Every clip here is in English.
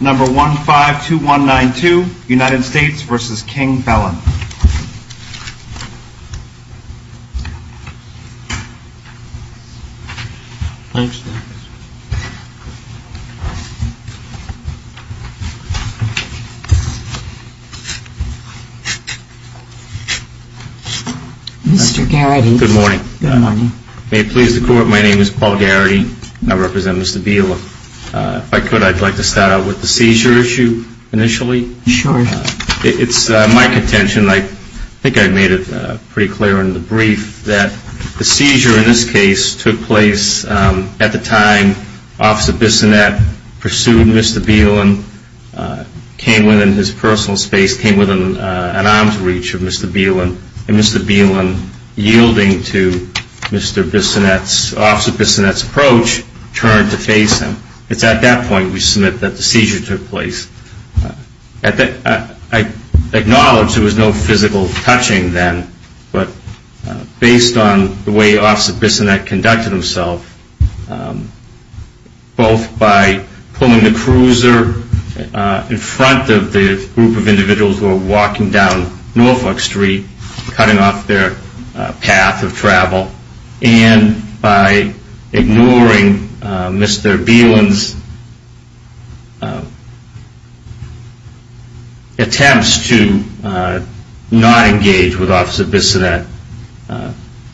Number 152192 United States v. King-Belin Mr. Garrity. Good morning. May it please the court, my name is Paul Garrity. I represent Mr. Biela. If I could, I'd like to start out with the seizure issue initially. It's my contention, I think I made it pretty clear in the brief, that the seizure in this case took place at the time Officer Bissonette pursued Mr. Bielan, came within his personal space, came within an arm's reach of Mr. Bielan, and Mr. Bielan yielding to Mr. Bissonette's, Officer Bissonette's approach, turned to face him. It's at that point, we submit, that the seizure took place. I acknowledge there was no physical touching then, but based on the way Officer Bissonette conducted himself, both by pulling the cruiser in front of the group of individuals who were walking down Norfolk Street, cutting off their path of travel, and by ignoring Mr. Bielan's, Officer Bissonette's, approach. Mr. Bielan's attempts to not engage with Officer Bissonette,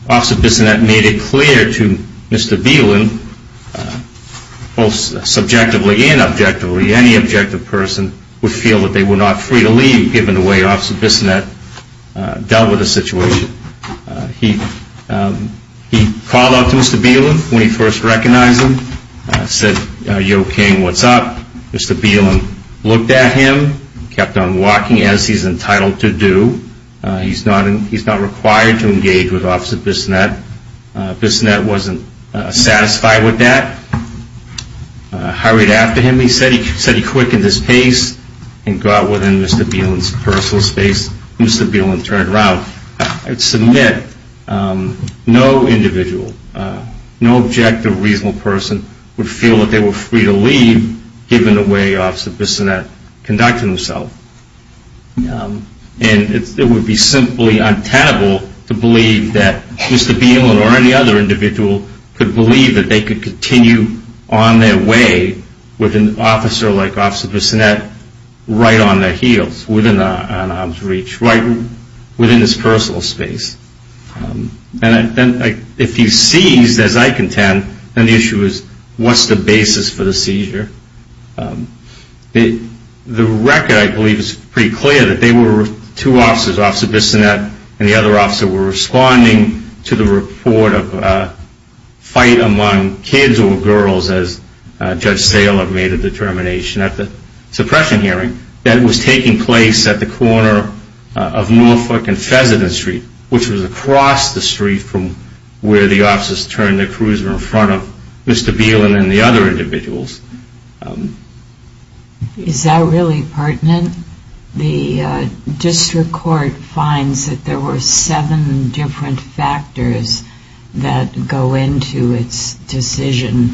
Officer Bissonette made it clear to Mr. Bielan, both subjectively and objectively, any objective person would feel that they were not free to leave given the way Officer Bissonette dealt with the situation. He called out to Mr. Bielan when he first recognized him, said, Yo King, what's up? Mr. Bielan looked at him, kept on walking as he's entitled to do. He's not required to engage with Officer Bissonette. Bissonette wasn't satisfied with that, hurried after him, he said, he quickened his pace and got within Mr. Bielan's personal space. Mr. Bielan turned around and said, no individual, no objective, reasonable person would feel that they were free to leave given the way Officer Bissonette conducted himself. And it would be simply untenable to believe that Mr. Bielan or any other individual could believe that they could continue on their way with an officer like Officer Bissonette right on their heels, within an arm's reach, right within his personal space. And if he's seized, as I contend, then the issue is what's the basis for the seizure? The record, I believe, is pretty clear that they were two officers, Officer Bissonette and the other officer, were responding to the report of a fight among kids or girls as Judge Saylor made a determination at the suppression hearing that was taking place at the corner of Norfolk and Fessenden Street, which was across the street from where the officers turned the cruiser in front of Mr. Bielan and the other individuals. Is that really pertinent? The district court finds that there were seven different factors that go into its decision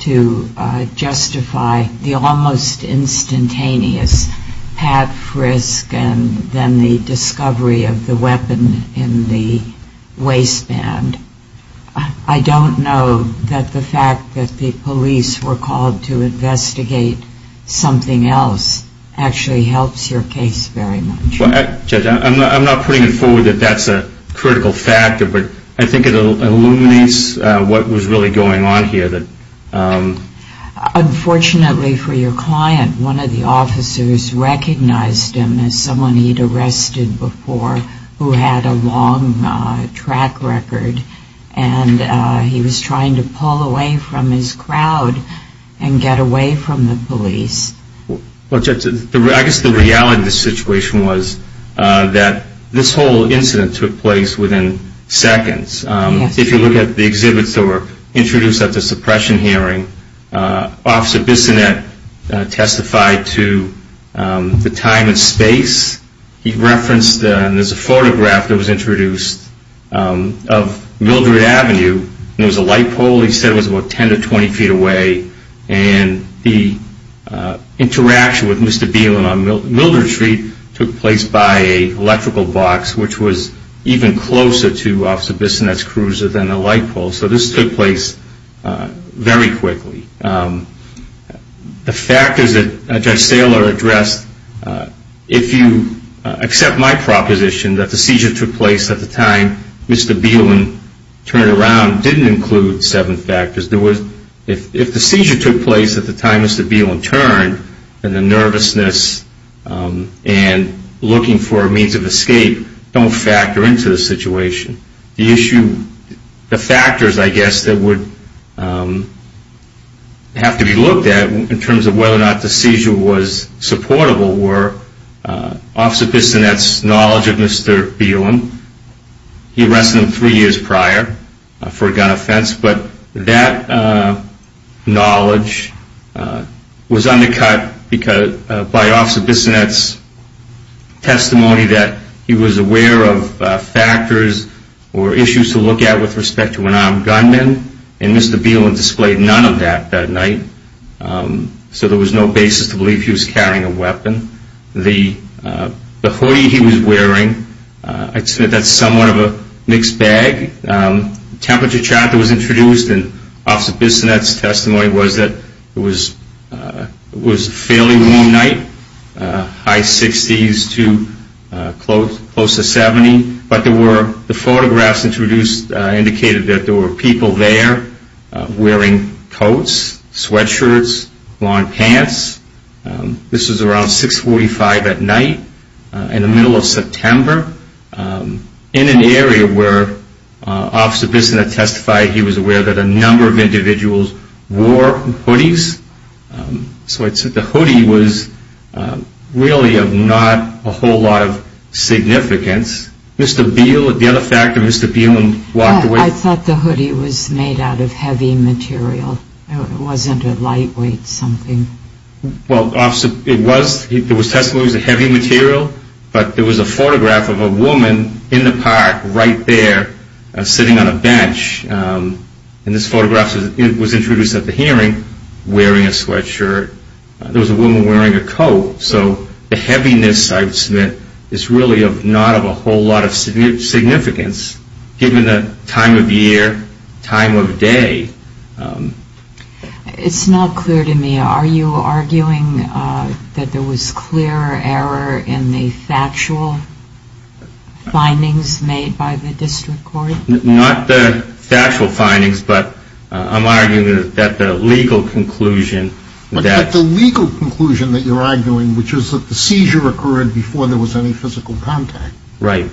to justify the almost instantaneous pat, frisk, and then the discovery of the weapon in the waistband. I don't know that the fact that the police were called to investigate something else actually helps your case very much. Well, Judge, I'm not putting it forward that that's a critical factor, but I think it illuminates what was really going on here. Unfortunately for your client, one of the officers recognized him as someone he'd arrested before who had a long track record, and he was trying to pull away from his crowd and get away from the police. Well, Judge, I guess the reality of the situation was that this whole incident took place within seconds. If you look at the exhibits that were introduced at the suppression hearing, Officer Bissonette testified to the time and space. He referenced, and there's a photograph that was introduced of Mildred Avenue. There was a light pole. He said it was about 10 to 20 feet away, and the interaction with Mr. Bielan on Mildred Street took place by an electrical box, which was even closer to Officer Bissonette's cruiser than the light pole. So this took place very quickly. The factors that Judge Saylor addressed, if you accept my proposition that the seizure took place at the time Mr. Bielan turned around, didn't include seven factors. If the seizure took place at the time Mr. Bielan turned, then the nervousness and looking for a means of escape don't factor into the situation. The issue, the factors, I guess, that would have to be looked at in terms of whether or not the seizure was supportable were Officer Bissonette's knowledge of Mr. Bielan. He arrested him three years prior for a gun offense, but that knowledge was undercut by Officer Bissonette's testimony that he was aware of factors or issues to look at with respect to an armed gunman, and Mr. Bielan displayed none of that that night. So there was no basis to believe he was carrying a weapon. The hoodie he was wearing, I'd say that's somewhat of a mixed bag. The temperature chart that was introduced in Officer Bissonette's testimony was that it was a fairly warm night, high 60s to close to 70, but the photographs introduced indicated that there were people there wearing coats, sweatshirts, long pants. This was around 645 at night in the middle of September. In an area where Officer Bissonette testified, he was aware that a number of individuals wore hoodies. So I'd say the hoodie was really of not a whole lot of significance. Mr. Bielan, the other factor, Mr. Bielan walked away. I thought the hoodie was made out of heavy material. It wasn't a lightweight something. Well, Officer, it was. There was testimony it was a heavy material, but there was a photograph of a woman in the park right there sitting on a bench, and this photograph was introduced at the hearing wearing a sweatshirt. There was a woman wearing a coat, so the heaviness I would submit is really not of a whole lot of significance given the time of year, time of day. It's not clear to me, are you arguing that there was clear error in the factual findings made by the district court? Not the factual findings, but I'm arguing that the legal conclusion that But the legal conclusion that you're arguing, which is that the seizure occurred before there was any physical contact. Right.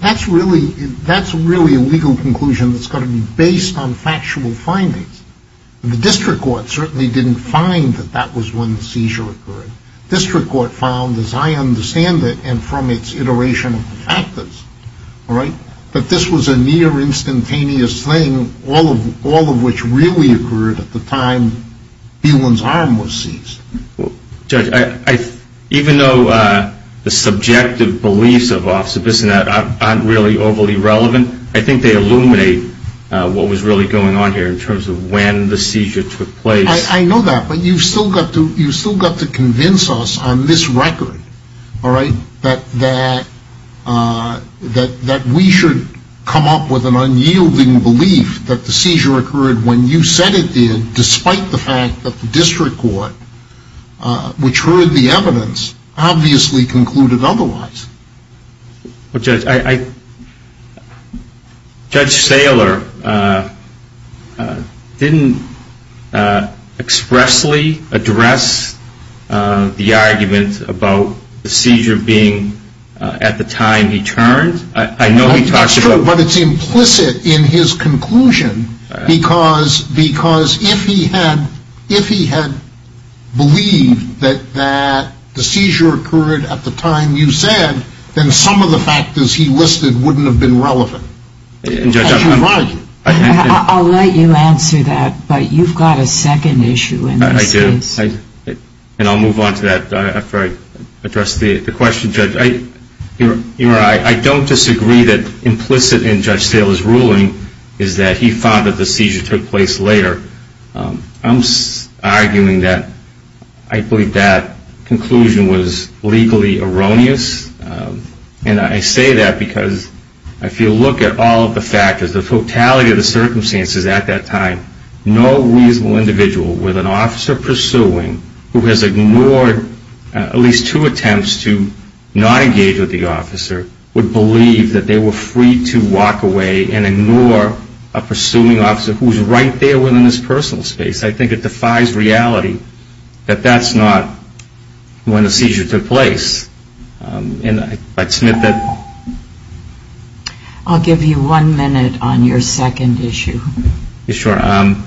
That's really a legal conclusion that's got to be based on factual findings. The district court certainly didn't find that that was when the seizure occurred. The district court found, as I understand it and from its iteration of the factors, that this was a near instantaneous thing, all of which really occurred at the time Bielan's arm was seized. Judge, even though the subjective beliefs of officers in that aren't really overly relevant, I think they illuminate what was really going on here in terms of when the seizure took place. I know that, but you've still got to convince us on this record, all right, that we should come up with an unyielding belief that the seizure occurred when you said it did which heard the evidence obviously concluded otherwise. Well, Judge, Judge Saylor didn't expressly address the argument about the seizure being at the time he turned. That's true, but it's implicit in his conclusion because if he had believed that the seizure occurred at the time you said, then some of the factors he listed wouldn't have been relevant. I'll let you answer that, but you've got a second issue in this case. I do, and I'll move on to that after I address the question, Judge. Your Honor, I don't disagree that implicit in Judge Saylor's ruling is that he found that the seizure took place later. I'm arguing that I believe that conclusion was legally erroneous, and I say that because if you look at all of the factors, the totality of the circumstances at that time, no reasonable individual with an officer pursuing who has ignored at least two attempts to not engage with the officer would believe that they were free to walk away and ignore a pursuing officer who was right there within his personal space. I think it defies reality that that's not when the seizure took place, and I'd submit that. I'll give you one minute on your second issue. Your Honor,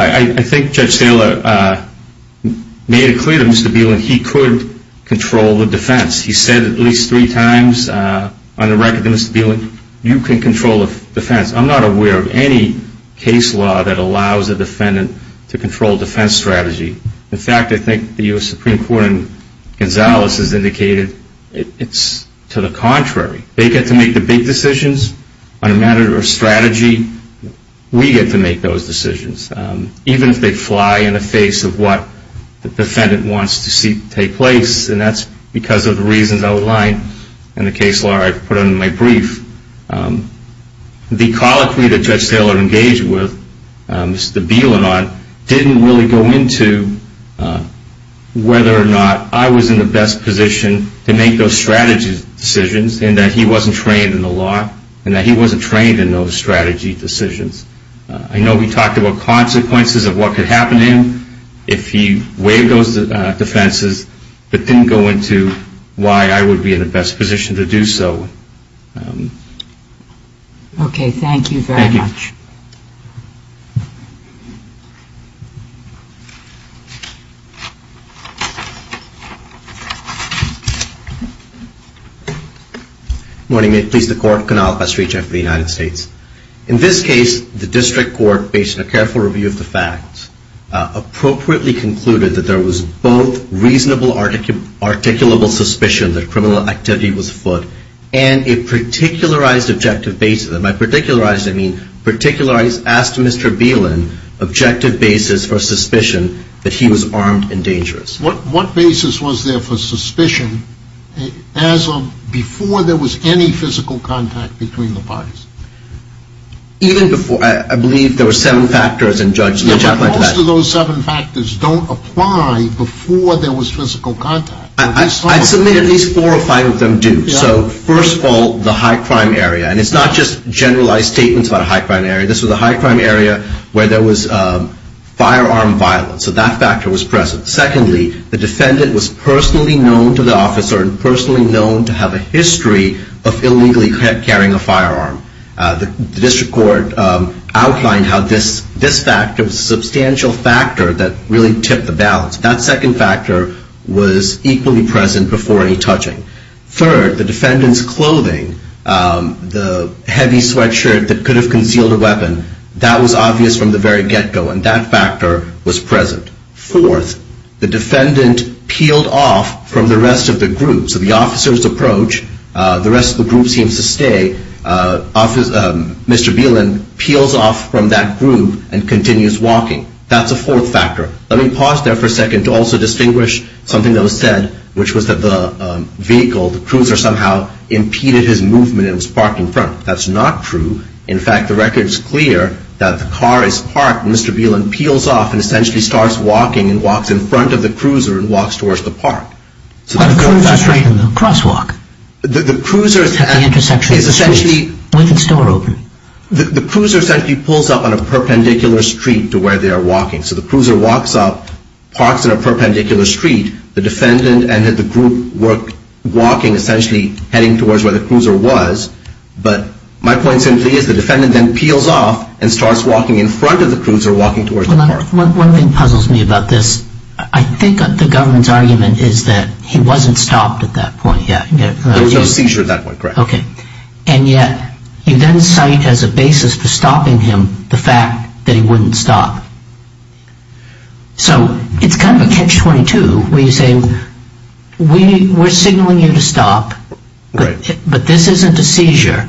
I think Judge Saylor made it clear to Mr. Bielan he could control the defense. He said at least three times on the record to Mr. Bielan, you can control the defense. I'm not aware of any case law that allows a defendant to control a defense strategy. In fact, I think the U.S. Supreme Court in Gonzales has indicated it's to the contrary. They get to make the big decisions on a matter of strategy. We get to make those decisions, even if they fly in the face of what the defendant wants to see take place, and that's because of the reasons outlined in the case law I put in my brief. The colloquy that Judge Saylor engaged with Mr. Bielan on didn't really go into whether or not I was in the best position to make those strategy decisions, and that he wasn't trained in the law, and that he wasn't trained in those strategy decisions. I know we talked about consequences of what could happen to him if he waived those defenses, but didn't go into why I would be in the best position to do so. Okay, thank you very much. Thank you. Good morning. May it please the Court. Kunal Pastry, Chief of the United States. In this case, the district court, based on a careful review of the facts, appropriately concluded that there was both reasonable articulable suspicion that criminal activity was afoot, and a particularized objective basis. By particularized, I mean particularized. Asked Mr. Bielan objective basis for suspicion that he was armed and dangerous. What basis was there for suspicion as of before there was any physical contact between the parties? Even before. I believe there were seven factors in judgment. Most of those seven factors don't apply before there was physical contact. I'd submit at least four or five of them do. So first of all, the high crime area. And it's not just generalized statements about a high crime area. This was a high crime area where there was firearm violence. So that factor was present. Secondly, the defendant was personally known to the officer and personally known to have a history of illegally carrying a firearm. The district court outlined how this factor was a substantial factor that really tipped the balance. That second factor was equally present before any touching. Third, the defendant's clothing, the heavy sweatshirt that could have concealed a weapon, that was obvious from the very get-go, and that factor was present. Fourth, the defendant peeled off from the rest of the group. So the officer's approach, the rest of the group seems to stay. Mr. Bielan peels off from that group and continues walking. That's a fourth factor. Let me pause there for a second to also distinguish something that was said, which was that the vehicle, the cruiser, somehow impeded his movement and was parked in front. That's not true. In fact, the record is clear that the car is parked, and Mr. Bielan peels off and essentially starts walking and walks in front of the cruiser and walks towards the park. But the cruiser's right in the crosswalk. The cruiser's at the intersection of the street with its door open. The cruiser essentially pulls up on a perpendicular street to where they are walking. So the cruiser walks up, parks on a perpendicular street. The defendant and the group were walking, essentially heading towards where the cruiser was. But my point simply is the defendant then peels off and starts walking in front of the cruiser, walking towards the park. One thing puzzles me about this. I think the government's argument is that he wasn't stopped at that point. There was no seizure at that point, correct. Okay. And yet you then cite as a basis for stopping him the fact that he wouldn't stop. So it's kind of a catch-22 where you say we're signaling you to stop. Right. But this isn't a seizure.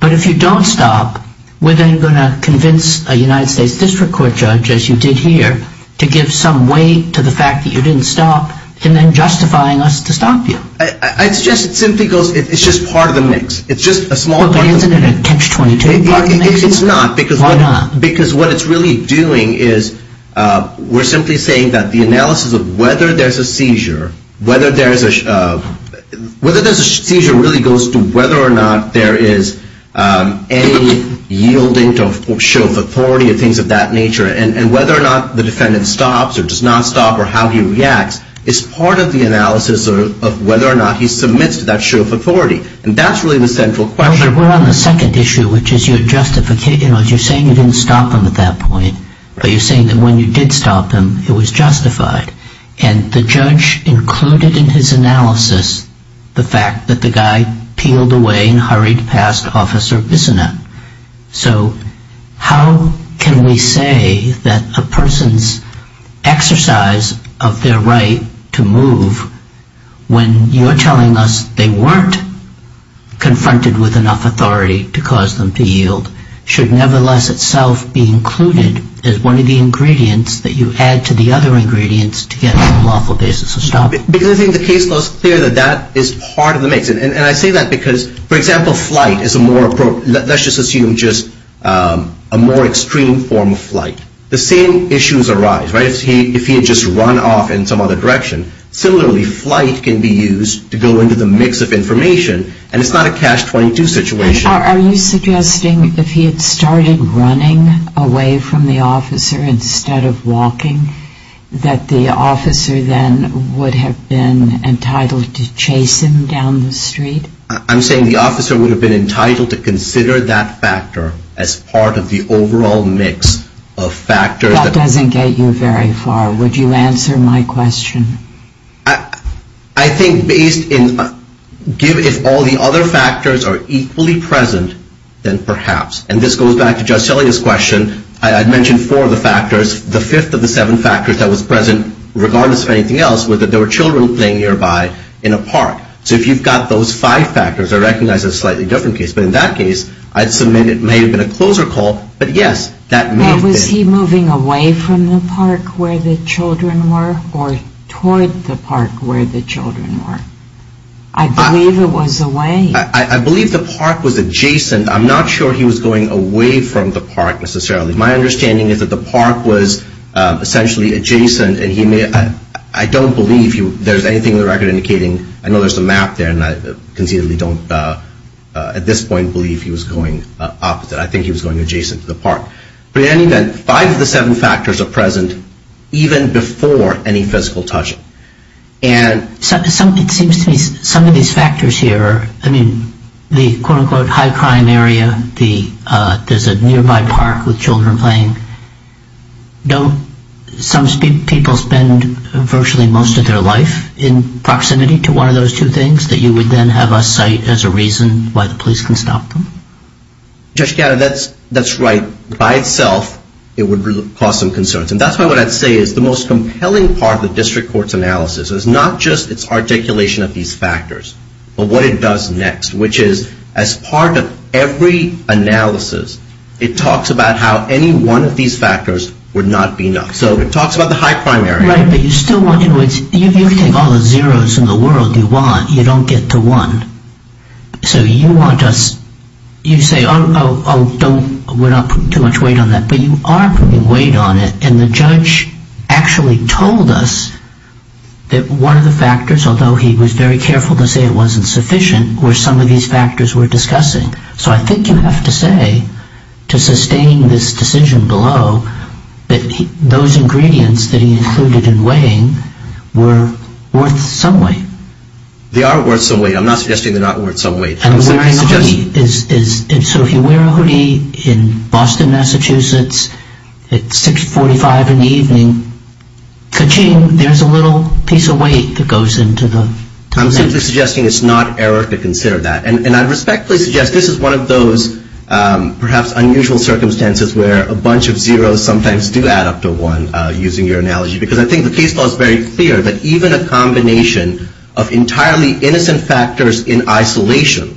But if you don't stop, we're then going to convince a United States District Court judge, as you did here, to give some weight to the fact that you didn't stop and then justifying us to stop you. It's just part of the mix. But isn't it a catch-22? It's not. Why not? Because what it's really doing is we're simply saying that the analysis of whether there's a seizure really goes to whether or not there is any yielding to show of authority and things of that nature, and whether or not the defendant stops or does not stop or how he reacts is part of the analysis of whether or not he submits to that show of authority. And that's really the central question. But we're on the second issue, which is you're saying you didn't stop him at that point, but you're saying that when you did stop him, it was justified. And the judge included in his analysis the fact that the guy peeled away and hurried past Officer Bissonnette. So how can we say that a person's exercise of their right to move, when you're telling us they weren't confronted with enough authority to cause them to yield, should nevertheless itself be included as one of the ingredients that you add to the other ingredients to get a lawful basis of stopping? Because I think the case flows clear that that is part of the mix. And I say that because, for example, flight is a more, let's just assume just a more extreme form of flight. The same issues arise, right, if he had just run off in some other direction. Similarly, flight can be used to go into the mix of information, and it's not a catch-22 situation. Are you suggesting if he had started running away from the officer instead of walking, that the officer then would have been entitled to chase him down the street? I'm saying the officer would have been entitled to consider that factor as part of the overall mix of factors. That doesn't get you very far. Would you answer my question? I think based in, if all the other factors are equally present, then perhaps. And this goes back to Judge Sellea's question. I mentioned four of the factors. The fifth of the seven factors that was present, regardless of anything else, was that there were children playing nearby in a park. So if you've got those five factors, I recognize it's a slightly different case. But in that case, I'd submit it may have been a closer call. But, yes, that may have been. Was he moving away from the park where the children were or toward the park where the children were? I believe it was away. I believe the park was adjacent. I'm not sure he was going away from the park, necessarily. My understanding is that the park was essentially adjacent. I don't believe there's anything in the record indicating. I know there's a map there, and I concededly don't at this point believe he was going opposite. I think he was going adjacent to the park. But in any event, five of the seven factors are present, even before any physical touching. It seems to me some of these factors here, I mean, the quote-unquote high crime area, there's a nearby park with children playing, don't some people spend virtually most of their life in proximity to one of those two things that you would then have us cite as a reason why the police can stop them? Judge Gatto, that's right. By itself, it would cause some concerns. And that's why what I'd say is the most compelling part of the district court's analysis is not just its articulation of these factors, but what it does next, which is as part of every analysis, it talks about how any one of these factors would not be enough. So it talks about the high crime area. Right, but you still want, you know, you can take all the zeros in the world you want, you don't get to one. So you want us, you say, oh, don't, we're not putting too much weight on that. But you are putting weight on it, and the judge actually told us that one of the factors, although he was very careful to say it wasn't sufficient, were some of these factors we're discussing. So I think you have to say, to sustain this decision below, that those ingredients that he included in weighing were worth some weight. They are worth some weight. I'm not suggesting they're not worth some weight. So if you wear a hoodie in Boston, Massachusetts at 6.45 in the evening, ka-ching, there's a little piece of weight that goes into the thing. I'm simply suggesting it's not error to consider that. And I respectfully suggest this is one of those perhaps unusual circumstances where a bunch of zeros sometimes do add up to one, using your analogy, because I think the case law is very clear that even a combination of entirely innocent factors in isolation,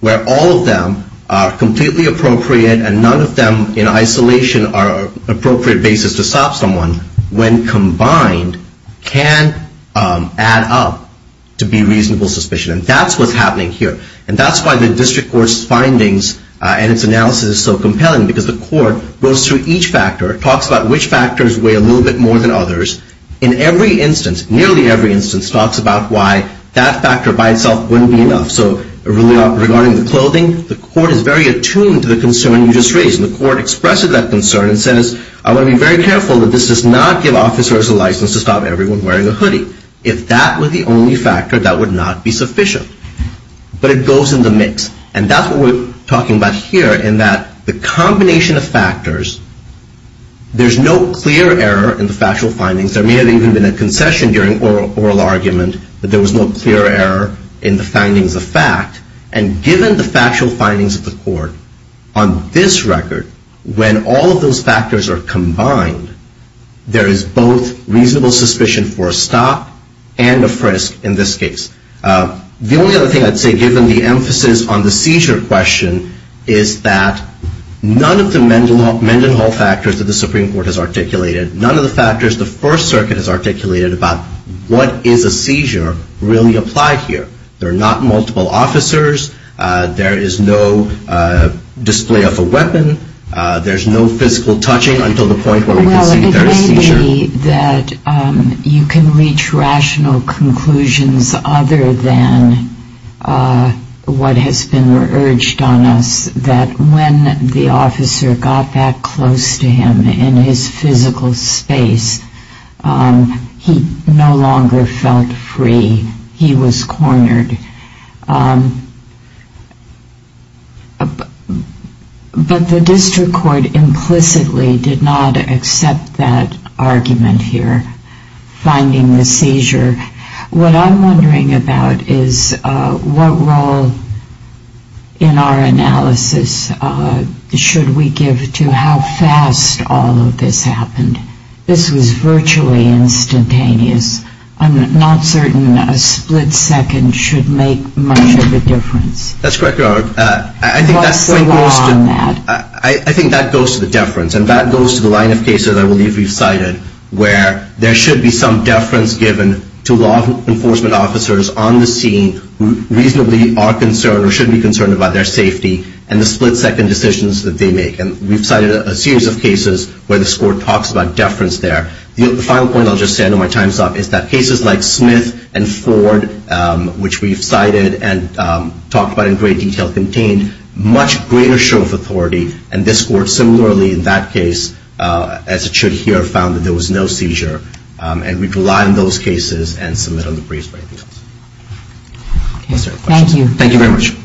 where all of them are completely appropriate and none of them in isolation are an appropriate basis to stop someone, when combined, can add up to be reasonable suspicion. And that's what's happening here. And that's why the district court's findings and its analysis is so compelling, because the court goes through each factor, talks about which factors weigh a little bit more than others. In every instance, nearly every instance, talks about why that factor by itself wouldn't be enough. So regarding the clothing, the court is very attuned to the concern you just raised. And the court expressed that concern and says, I want to be very careful that this does not give officers a license to stop everyone wearing a hoodie. If that were the only factor, that would not be sufficient. But it goes in the mix. And that's what we're talking about here, in that the combination of factors, there's no clear error in the factual findings. There may have even been a concession during oral argument that there was no clear error in the findings of fact. And given the factual findings of the court, on this record, when all of those factors are combined, there is both reasonable suspicion for a stop and a frisk in this case. The only other thing I'd say, given the emphasis on the seizure question, is that none of the Mendenhall factors that the Supreme Court has articulated, none of the factors the First Circuit has articulated about what is a seizure, really apply here. There are not multiple officers. There is no display of a weapon. There's no physical touching until the point where we can see there is seizure. I would argue that you can reach rational conclusions other than what has been urged on us, that when the officer got that close to him in his physical space, he no longer felt free. He was cornered. But the district court implicitly did not accept that argument here, finding the seizure. What I'm wondering about is what role in our analysis should we give to how fast all of this happened. This was virtually instantaneous. I'm not certain a split second should make much of a difference. That's correct, Your Honor. What's the law on that? I think that goes to the deference. And that goes to the line of cases I believe you've cited, where there should be some deference given to law enforcement officers on the scene who reasonably are concerned or should be concerned about their safety and the split-second decisions that they make. And we've cited a series of cases where this Court talks about deference there. The final point I'll just say, I know my time's up, is that cases like Smith and Ford, which we've cited and talked about in great detail, contained much greater show of authority. And this Court similarly in that case, as it should here, found that there was no seizure. And we rely on those cases and submit on the briefs. Thank you. Thank you very much.